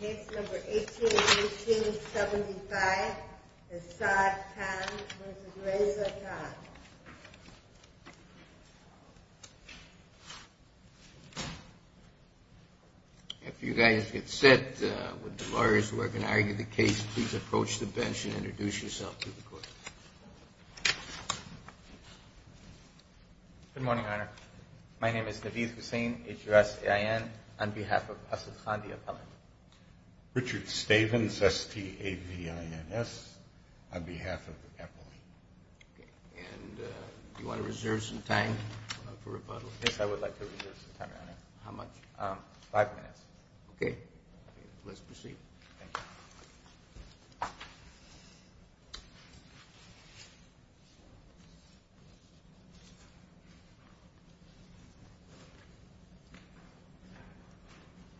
Case number 18-18-75, Asad Khan v. Reza Khan. If you guys get set with the lawyers who are going to argue the case, please approach the bench and introduce yourself to the court. Good morning, Your Honor. My name is Naveed Hussain, H-U-S-A-I-N, on behalf of Asad Khan v. Appellant. Richard Stavins, S-T-A-V-I-N-S, on behalf of Appellant. And do you want to reserve some time for rebuttal? Yes, I would like to reserve some time, Your Honor. How much? Five minutes. Okay. Let's proceed. Thank you.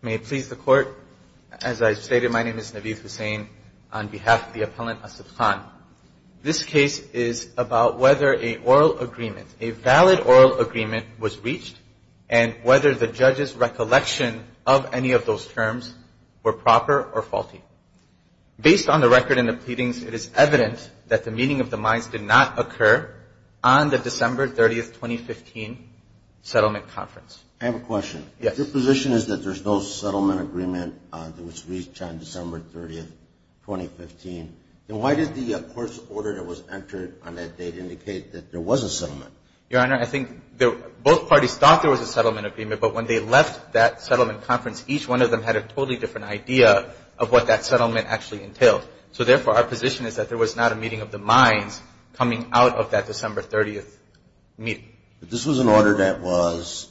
May it please the Court, as I stated, my name is Naveed Hussain on behalf of the Appellant, Asad Khan. This case is about whether a oral agreement, a valid oral agreement, was reached and whether the judge's recollection of any of those terms were proper or faulty. Based on the record in the pleadings, it is evident that the meeting of the minds did not occur on the December 30, 2015, settlement conference. I have a question. Yes. If your position is that there's no settlement agreement that was reached on December 30, 2015, then why did the court's order that was entered on that date indicate that there was a settlement? Your Honor, I think both parties thought there was a settlement agreement, but when they left that settlement conference, each one of them had a totally different idea of what that settlement actually entailed. So, therefore, our position is that there was not a meeting of the minds coming out of that December 30 meeting. But this was an order that was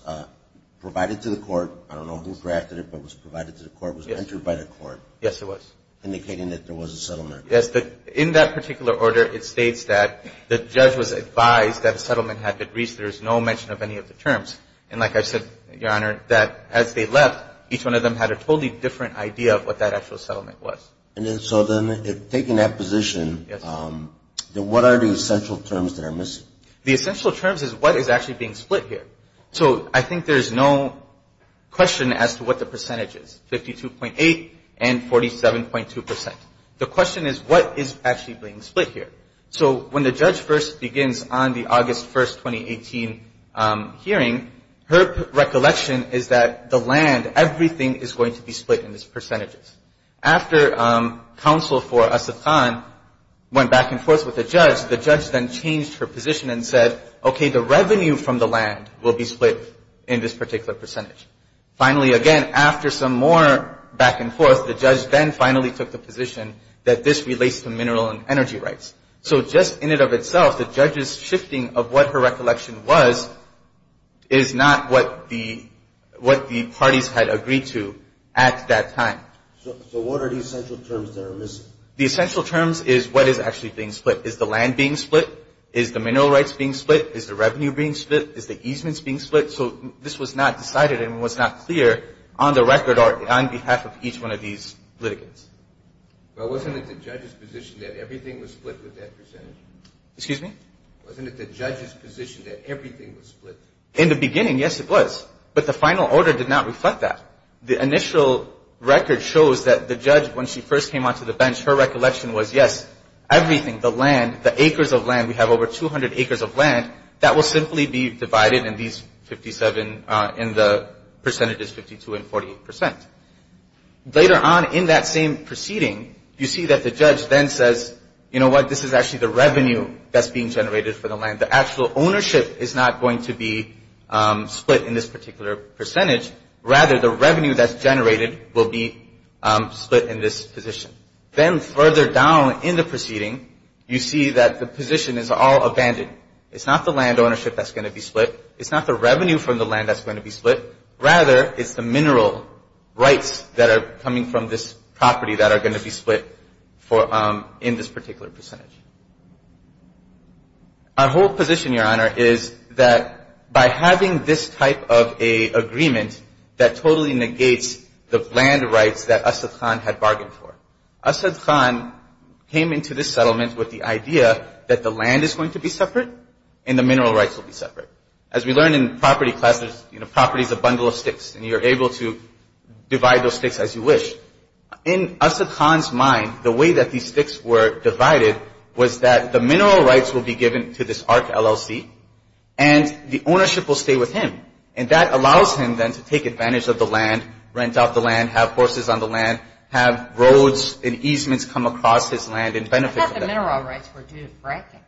provided to the court. I don't know who drafted it, but it was provided to the court. It was entered by the court. Yes, it was. Indicating that there was a settlement. Yes. In that particular order, it states that the judge was advised that a settlement had been reached. There is no mention of any of the terms. And like I said, Your Honor, that as they left, each one of them had a totally different idea of what that actual settlement was. And so then, taking that position, then what are the essential terms that are missing? The essential terms is what is actually being split here. So I think there's no question as to what the percentage is, 52.8 and 47.2 percent. The question is what is actually being split here. So when the judge first begins on the August 1, 2018 hearing, her recollection is that the land, everything is going to be split in these percentages. After counsel for Asad Khan went back and forth with the judge, the judge then changed her position and said, okay, the revenue from the land will be split in this particular percentage. Finally, again, after some more back and forth, the judge then finally took the position that this relates to mineral and energy rights. So just in and of itself, the judge's shifting of what her recollection was is not what the parties had agreed to at that time. So what are the essential terms that are missing? The essential terms is what is actually being split. Is the land being split? Is the mineral rights being split? Is the revenue being split? Is the easements being split? So this was not decided and was not clear on the record or on behalf of each one of these litigants. But wasn't it the judge's position that everything was split with that percentage? Excuse me? Wasn't it the judge's position that everything was split? In the beginning, yes, it was. But the final order did not reflect that. The initial record shows that the judge, when she first came onto the bench, her recollection was, yes, everything, the land, the acres of land, we have over 200 acres of land, that will simply be divided in these 57 in the percentages 52 and 48 percent. Later on in that same proceeding, you see that the judge then says, you know what? This is actually the revenue that's being generated for the land. The actual ownership is not going to be split in this particular percentage. Rather, the revenue that's generated will be split in this position. Then further down in the proceeding, you see that the position is all abandoned. It's not the land ownership that's going to be split. It's not the revenue from the land that's going to be split. Rather, it's the mineral rights that are coming from this property that are going to be split in this particular percentage. Our whole position, Your Honor, is that by having this type of a agreement that totally negates the land rights that Asad Khan had bargained for, Asad Khan came into this settlement with the idea that the land is going to be separate and the mineral rights will be separate. As we learned in property classes, you know, property is a bundle of sticks, and you're able to divide those sticks as you wish. In Asad Khan's mind, the way that these sticks were divided was that the mineral rights will be given to this ARC LLC, and the ownership will stay with him. And that allows him then to take advantage of the land, rent out the land, have horses on the land, have roads and easements come across his land and benefit from that. I thought the mineral rights were due to fracking.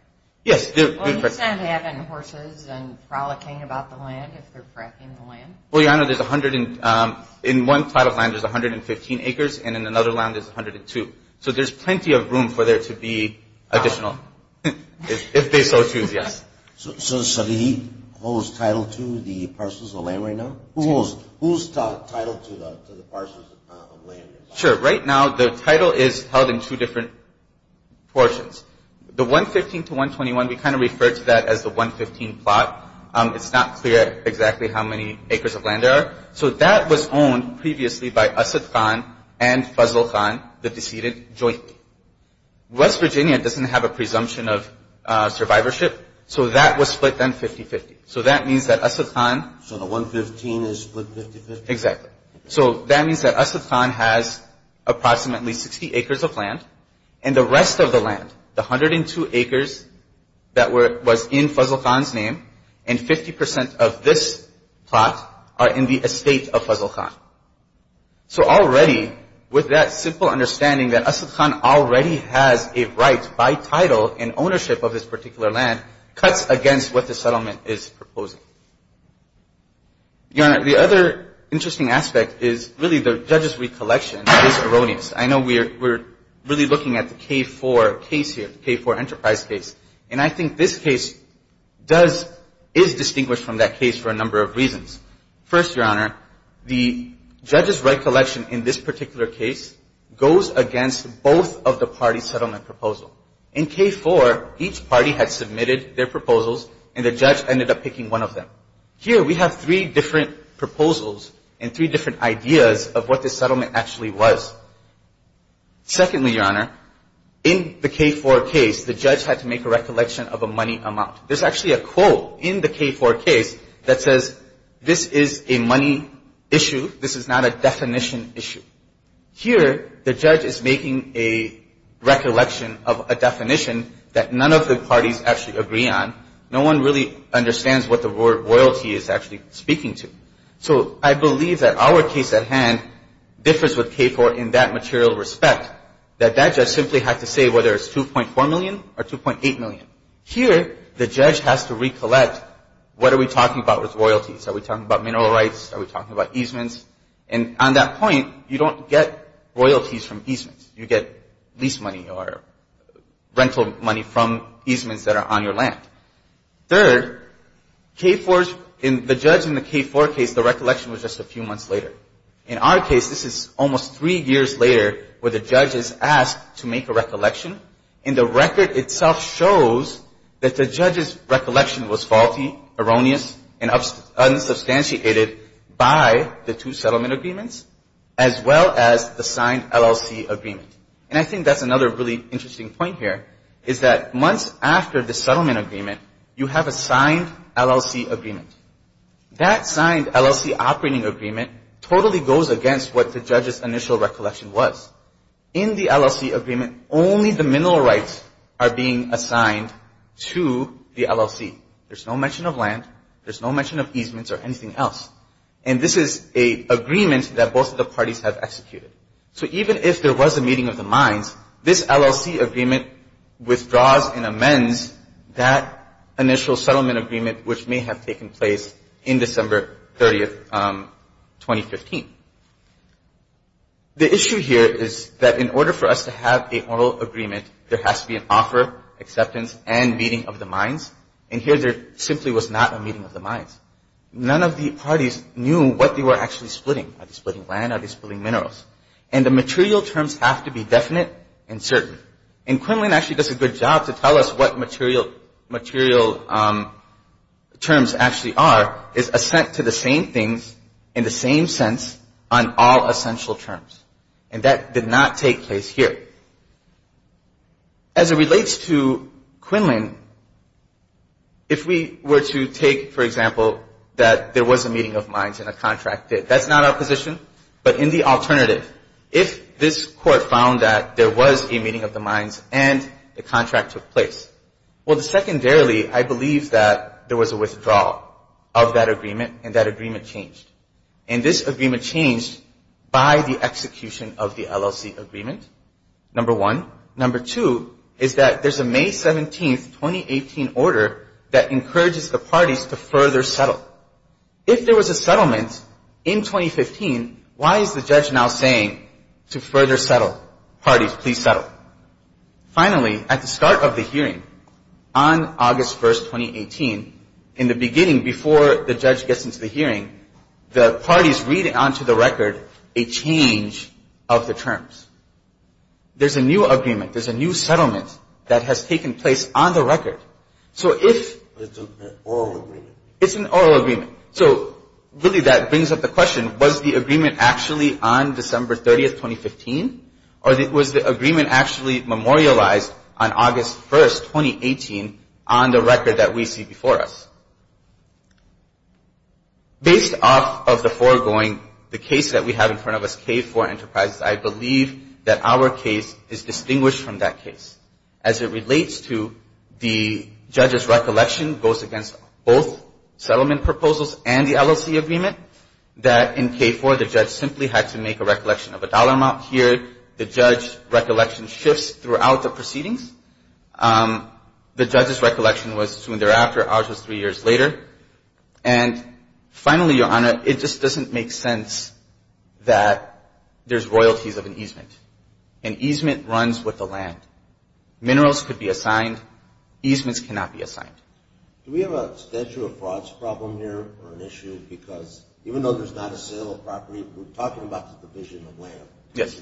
Yes, due to fracking. Well, he's not having horses and frolicking about the land if they're fracking the land. Well, Your Honor, in one plot of land there's 115 acres, and in another land there's 102. So there's plenty of room for there to be additional, if they so choose, yes. So does he hold title to the parcels of land right now? Who holds title to the parcels of land? Sure. Right now the title is held in two different portions. The 115 to 121, we kind of refer to that as the 115 plot. It's not clear exactly how many acres of land there are. So that was owned previously by Asad Khan and Fazal Khan, the decedent, jointly. West Virginia doesn't have a presumption of survivorship, so that was split then 50-50. So that means that Asad Khan – So the 115 is split 50-50? Exactly. So that means that Asad Khan has approximately 60 acres of land, and the rest of the land, the 102 acres that was in Fazal Khan's name, and 50 percent of this plot are in the estate of Fazal Khan. So already, with that simple understanding that Asad Khan already has a right by title and ownership of this particular land cuts against what the settlement is proposing. Your Honor, the other interesting aspect is really the judge's recollection is erroneous. I know we're really looking at the K-4 case here, the K-4 enterprise case, and I think this case does – is distinguished from that case for a number of reasons. First, Your Honor, the judge's recollection in this particular case goes against both of the parties' settlement proposal. In K-4, each party had submitted their proposals, and the judge ended up picking one of them. Here, we have three different proposals and three different ideas of what this settlement actually was. Secondly, Your Honor, in the K-4 case, the judge had to make a recollection of a money amount. There's actually a quote in the K-4 case that says this is a money issue, this is not a definition issue. Here, the judge is making a recollection of a definition that none of the parties actually agree on. No one really understands what the word royalty is actually speaking to. So I believe that our case at hand differs with K-4 in that material respect, that that judge simply had to say whether it's 2.4 million or 2.8 million. Here, the judge has to recollect what are we talking about with royalties. Are we talking about mineral rights? Are we talking about easements? And on that point, you don't get royalties from easements. You get lease money or rental money from easements that are on your land. Third, the judge in the K-4 case, the recollection was just a few months later. In our case, this is almost three years later where the judge is asked to make a recollection, and the record itself shows that the judge's recollection was faulty, erroneous, and unsubstantiated by the two settlement agreements as well as the signed LLC agreement. And I think that's another really interesting point here is that months after the settlement agreement, you have a signed LLC agreement. That signed LLC operating agreement totally goes against what the judge's initial recollection was. In the LLC agreement, only the mineral rights are being assigned to the LLC. There's no mention of land. There's no mention of easements or anything else. And this is an agreement that both of the parties have executed. So even if there was a meeting of the minds, this LLC agreement withdraws and amends that initial settlement agreement, which may have taken place in December 30, 2015. The issue here is that in order for us to have an oral agreement, there has to be an offer, acceptance, and meeting of the minds. And here there simply was not a meeting of the minds. None of the parties knew what they were actually splitting. Are they splitting land? Are they splitting minerals? And the material terms have to be definite and certain. And Quinlan actually does a good job to tell us what material terms actually are, is assent to the same things in the same sense on all essential terms. And that did not take place here. As it relates to Quinlan, if we were to take, for example, that there was a meeting of minds and a contract did, that's not our position. But in the alternative, if this court found that there was a meeting of the minds and the contract took place, well, secondarily, I believe that there was a withdrawal of that agreement and that agreement changed. And this agreement changed by the execution of the LLC agreement, number one. Number two is that there's a May 17, 2018, order that encourages the parties to further settle. If there was a settlement in 2015, why is the judge now saying to further settle? Parties, please settle. Finally, at the start of the hearing on August 1, 2018, in the beginning before the judge gets into the hearing, the parties read onto the record a change of the terms. There's a new agreement. There's a new settlement that has taken place on the record. So if... It's an oral agreement. It's an oral agreement. So really that brings up the question, was the agreement actually on December 30, 2015? Or was the agreement actually memorialized on August 1, 2018, on the record that we see before us? Based off of the foregoing, the case that we have in front of us, K4 Enterprises, I believe that our case is distinguished from that case. As it relates to the judge's recollection, goes against both settlement proposals and the LLC agreement, that in K4 the judge simply had to make a recollection of a dollar amount. Here the judge's recollection shifts throughout the proceedings. The judge's recollection was soon thereafter, ours was three years later. And finally, Your Honor, it just doesn't make sense that there's royalties of an easement. An easement runs with the land. Minerals could be assigned. Easements cannot be assigned. Do we have a statute of frauds problem here or an issue? Because even though there's not a sale of property, we're talking about the division of land. Yes.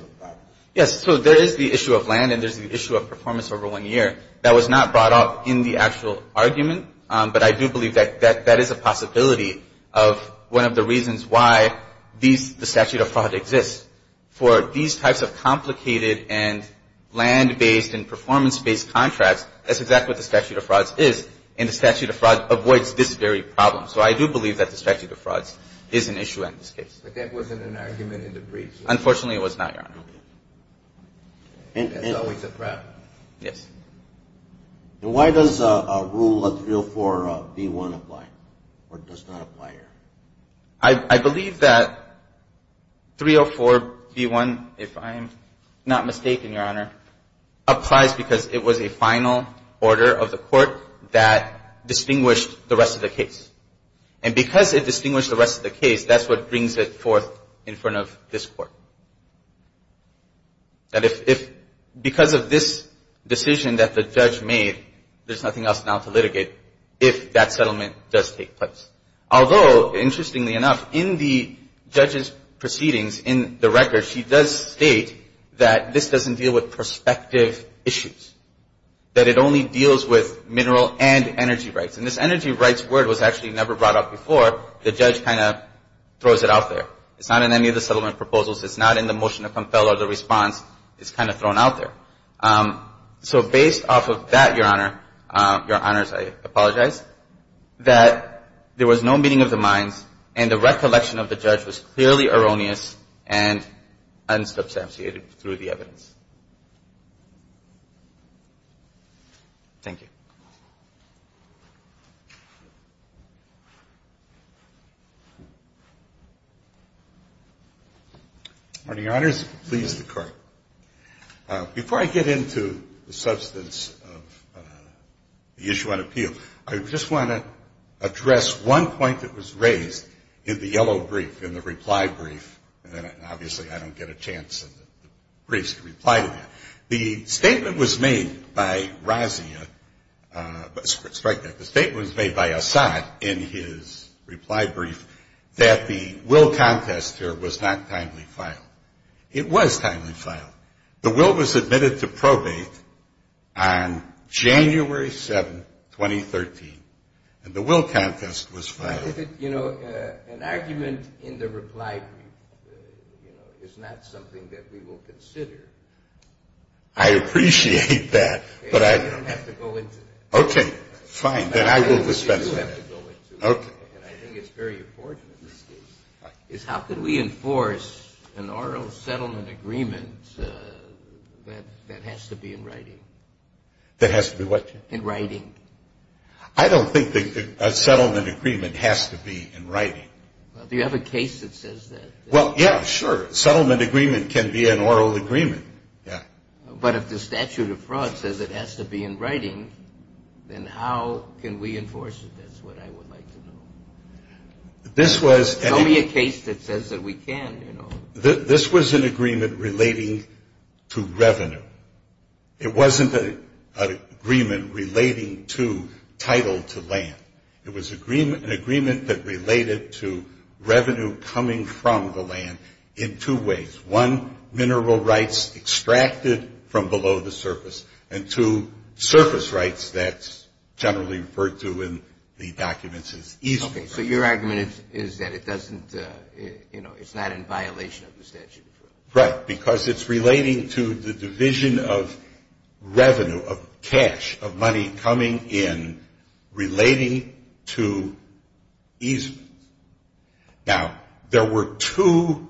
Yes, so there is the issue of land and there's the issue of performance over one year. That was not brought up in the actual argument, but I do believe that that is a possibility of one of the reasons why these the statute of fraud exists. For these types of complicated and land-based and performance-based contracts, that's exactly what the statute of frauds is. And the statute of frauds avoids this very problem. So I do believe that the statute of frauds is an issue in this case. But that wasn't an argument in the brief. Unfortunately, it was not, Your Honor. That's always a problem. Yes. And why does Rule 304B1 apply or does not apply here? I believe that 304B1, if I'm not mistaken, Your Honor, applies because it was a final order of the court that distinguished the rest of the case. And because it distinguished the rest of the case, that's what brings it forth in front of this court. Because of this decision that the judge made, there's nothing else now to litigate if that settlement does take place. Although, interestingly enough, in the judge's proceedings in the record, she does state that this doesn't deal with prospective issues, that it only deals with mineral and energy rights. And this energy rights word was actually never brought up before. The judge kind of throws it out there. It's not in any of the settlement proposals. It's not in the motion to compel or the response. It's kind of thrown out there. So based off of that, Your Honor, Your Honors, I apologize, that there was no meeting of the minds and the recollection of the judge was clearly erroneous and unsubstantiated through the evidence. Thank you. Morning, Your Honors. Please, the court. Before I get into the substance of the issue on appeal, I just want to address one point that was raised in the yellow brief, in the reply brief, and obviously I don't get a chance in the briefs to reply to that. The statement was made by Razia, the statement was made by Assad in his reply brief, that the will contest here was not timely filed. It was timely filed. The will was admitted to probate on January 7, 2013, and the will contest was filed. An argument in the reply brief is not something that we will consider. I appreciate that. You don't have to go into it. Okay. Fine. Then I will dispense with it. You do have to go into it. Okay. And I think it's very important in this case, is how can we enforce an oral settlement agreement that has to be in writing? That has to be what? In writing. I don't think that a settlement agreement has to be in writing. Well, do you have a case that says that? Well, yeah, sure. A settlement agreement can be an oral agreement. Yeah. But if the statute of fraud says it has to be in writing, then how can we enforce it? That's what I would like to know. This was. Tell me a case that says that we can, you know. This was an agreement relating to revenue. It wasn't an agreement relating to title to land. It was an agreement that related to revenue coming from the land in two ways. One, mineral rights extracted from below the surface. And two, surface rights that's generally referred to in the documents as east. Okay. So your argument is that it doesn't, you know, it's not in violation of the statute of fraud. Right. Because it's relating to the division of revenue, of cash, of money coming in relating to easements. Now, there were two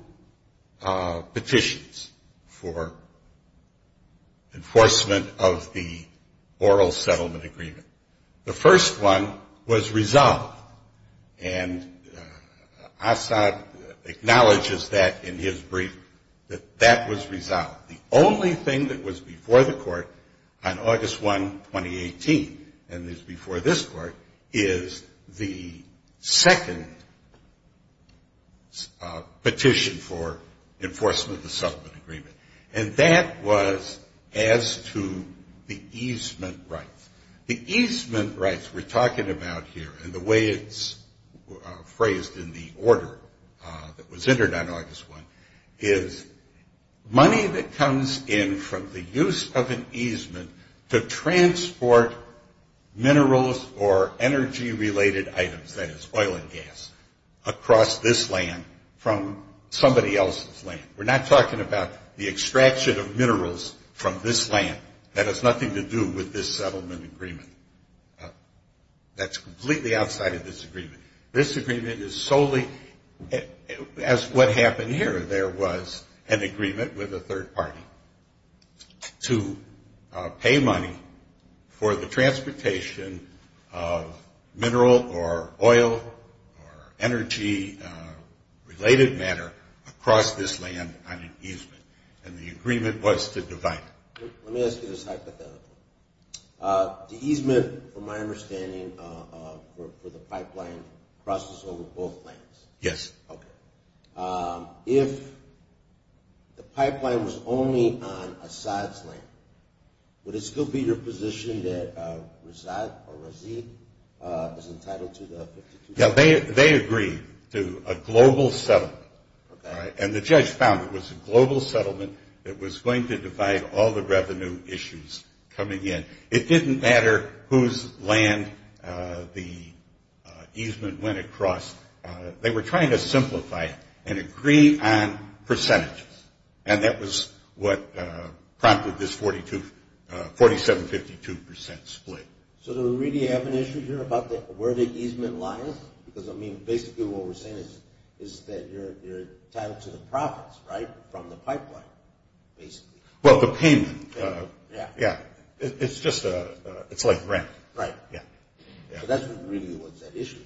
petitions for enforcement of the oral settlement agreement. The first one was resolved. And Assad acknowledges that in his brief, that that was resolved. The only thing that was before the court on August 1, 2018, and is before this court, is the second petition for enforcement of the settlement agreement. And that was as to the easement rights. The easement rights we're talking about here, and the way it's phrased in the order that was entered on August 1, is money that comes in from the use of an easement to transport minerals or energy-related items, that is oil and gas, across this land from somebody else's land. We're not talking about the extraction of minerals from this land. That has nothing to do with this settlement agreement. That's completely outside of this agreement. This agreement is solely as what happened here. There was an agreement with a third party to pay money for the transportation of mineral or oil or energy-related matter across this land on an easement. And the agreement was to divide it. Let me ask you this hypothetical. The easement, from my understanding, for the pipeline crosses over both lands. Yes. Okay. If the pipeline was only on Assad's land, would it still be your position that Razaad or Razid is entitled to the 52%? Yeah, they agreed to a global settlement. Okay. And the judge found it was a global settlement that was going to divide all the revenue issues coming in. It didn't matter whose land the easement went across. They were trying to simplify it and agree on percentages, and that was what prompted this 47-52% split. So do we really have an issue here about where the easement lies? Because, I mean, basically what we're saying is that you're entitled to the profits, right, from the pipeline, basically. Well, the payment. Yeah. Yeah. It's just a – it's like rent. Right. Yeah. So that's really what's at issue here.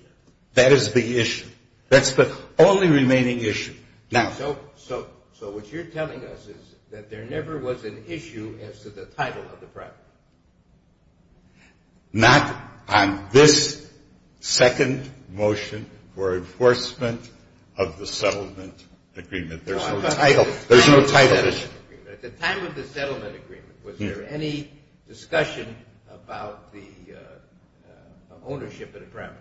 That is the issue. That's the only remaining issue. So what you're telling us is that there never was an issue as to the title of the pipeline. Not on this second motion for enforcement of the settlement agreement. There's no title. There's no title. At the time of the settlement agreement, was there any discussion about the ownership of the primary?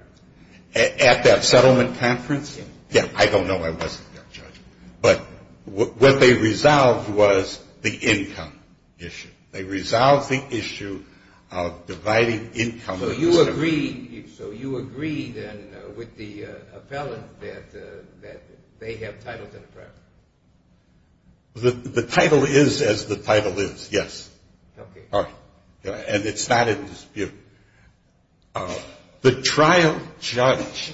At that settlement conference? Yeah. Yeah, I don't know. I wasn't there, Judge. But what they resolved was the income issue. They resolved the issue of dividing income. So you agree, then, with the appellant that they have title to the primary? The title is as the title is, yes. Okay. And it's not in dispute. The trial judge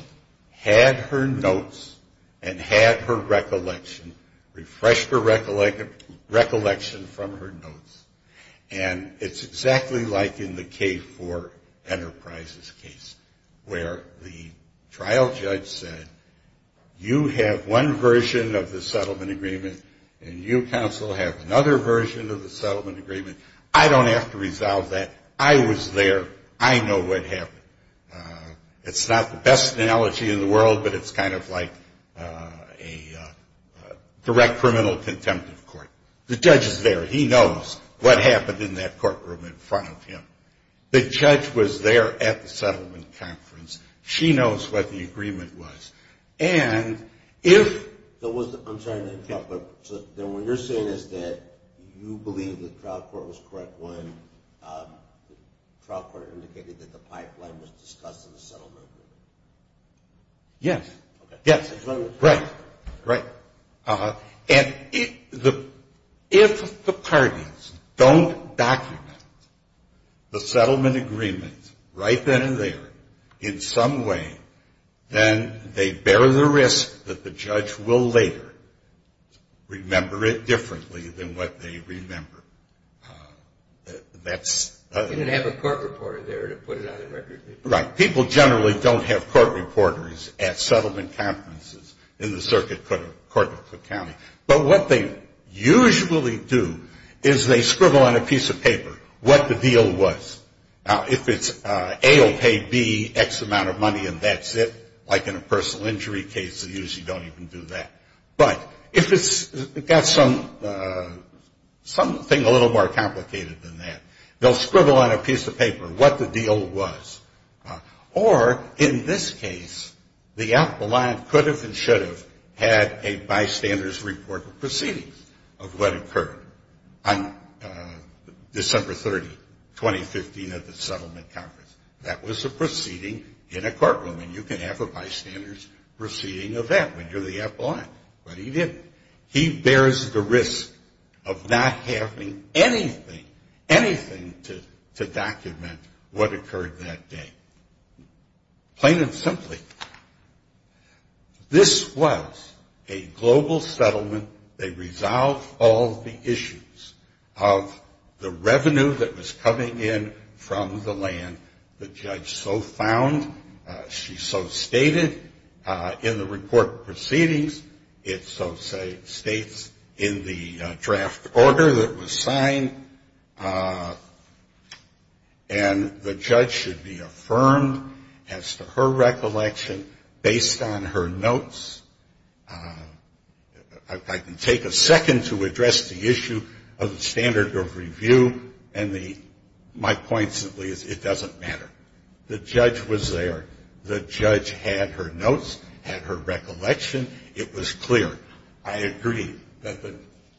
had her notes and had her recollection, refreshed her recollection from her notes, and it's exactly like in the K-4 Enterprises case where the trial judge said, you have one version of the settlement agreement and you, counsel, have another version of the settlement agreement. I don't have to resolve that. I was there. I know what happened. It's not the best analogy in the world, but it's kind of like a direct criminal contempt of court. The judge is there. He knows what happened in that courtroom in front of him. The judge was there at the settlement conference. She knows what the agreement was. And if there was the – I'm sorry to interrupt, but then what you're saying is that you believe the trial court was correct when the trial court indicated that the pipeline was discussed in the settlement agreement. Yes. Yes. Right. Right. And if the parties don't document the settlement agreement right then and there in some way, then they bear the risk that the judge will later remember it differently than what they remember. You didn't have a court reporter there to put it on the record. Right. People generally don't have court reporters at settlement conferences in the circuit court of Cook County. But what they usually do is they scribble on a piece of paper what the deal was. Now, if it's A will pay B X amount of money and that's it, like in a personal injury case, they usually don't even do that. But if it's got something a little more complicated than that, they'll scribble on a piece of paper what the deal was. Or in this case, the appellant could have and should have had a bystander's report of proceedings of what occurred on December 30, 2015, at the settlement conference. That was a proceeding in a courtroom, and you can have a bystander's proceeding of that when you're the appellant. But he didn't. He bears the risk of not having anything, anything to document what occurred that day. Plain and simply, this was a global settlement. They resolved all the issues of the revenue that was coming in from the land the judge so found, she so stated, in the report of proceedings, it so states in the draft order that was signed, and the judge should be affirmed as to her recollection based on her notes. I can take a second to address the issue of the standard of review, and my point simply is it doesn't matter. The judge was there. The judge had her notes, had her recollection. It was clear. I agree that the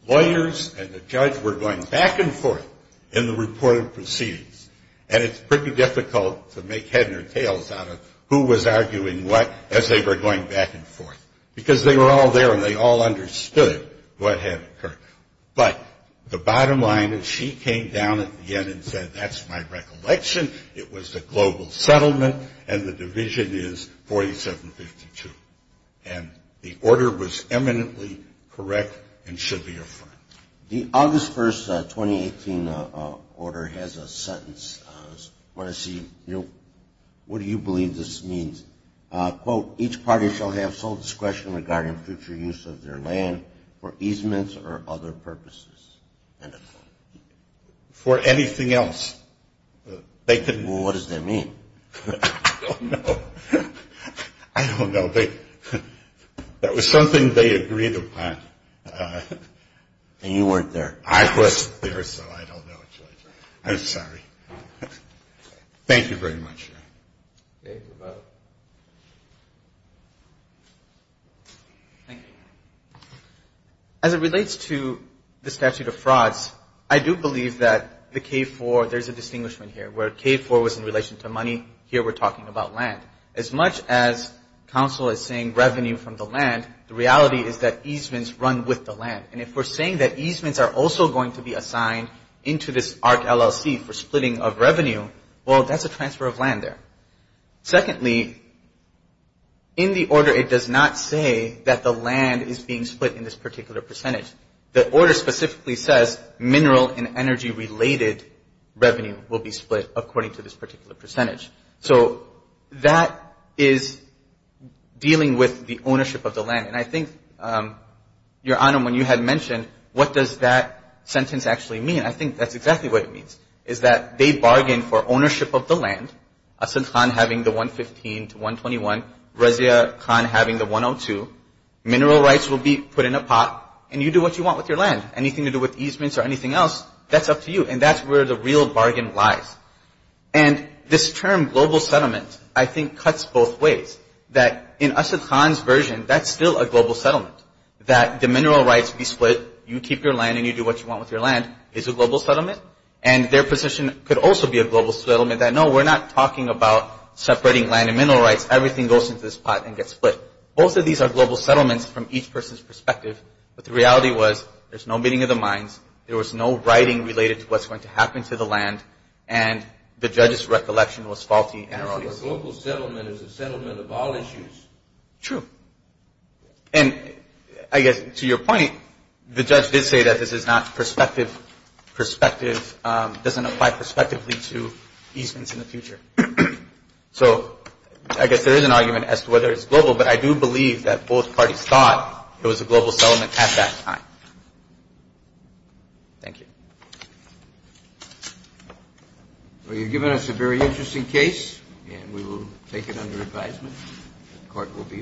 lawyers and the judge were going back and forth in the report of proceedings, and it's pretty difficult to make head or tails out of who was arguing what as they were going back and forth, because they were all there, and they all understood what had occurred. But the bottom line is she came down at the end and said, that's my recollection. It was a global settlement, and the division is 4752. And the order was eminently correct and should be affirmed. The August 1, 2018, order has a sentence. I want to see, you know, what do you believe this means? Quote, each party shall have sole discretion regarding future use of their land for easements or other purposes. For anything else, they could. Well, what does that mean? I don't know. I don't know. That was something they agreed upon. And you weren't there. I wasn't there, so I don't know, Judge. I'm sorry. Thank you very much. Thank you, Roberto. Thank you. As it relates to the statute of frauds, I do believe that the K-4, there's a distinguishment here, where K-4 was in relation to money. Here we're talking about land. As much as counsel is saying revenue from the land, the reality is that easements run with the land. And if we're saying that easements are also going to be assigned into this ARC LLC for splitting of revenue, well, that's a transfer of land there. Secondly, in the order it does not say that the land is being split in this particular percentage. The order specifically says mineral and energy-related revenue will be split according to this particular percentage. So that is dealing with the ownership of the land. And I think, Your Honor, when you had mentioned what does that sentence actually mean, I think that's exactly what it means, is that they bargain for ownership of the land, Asad Khan having the 115 to 121, Razia Khan having the 102. Mineral rights will be put in a pot, and you do what you want with your land. Anything to do with easements or anything else, that's up to you. And that's where the real bargain lies. And this term global settlement, I think, cuts both ways. That in Asad Khan's version, that's still a global settlement. That the mineral rights be split, you keep your land and you do what you want with your land is a global settlement. And their position could also be a global settlement that, no, we're not talking about separating land and mineral rights. Everything goes into this pot and gets split. Both of these are global settlements from each person's perspective. But the reality was there's no meeting of the minds, there was no writing related to what's going to happen to the land, and the judge's recollection was faulty and erroneous. So a global settlement is a settlement of all issues. True. And I guess to your point, the judge did say that this is not perspective. Perspective doesn't apply perspectively to easements in the future. So I guess there is an argument as to whether it's global, but I do believe that both parties thought it was a global settlement at that time. Thank you. Well, you've given us a very interesting case, and we will take it under advisement. Court will be adjourned.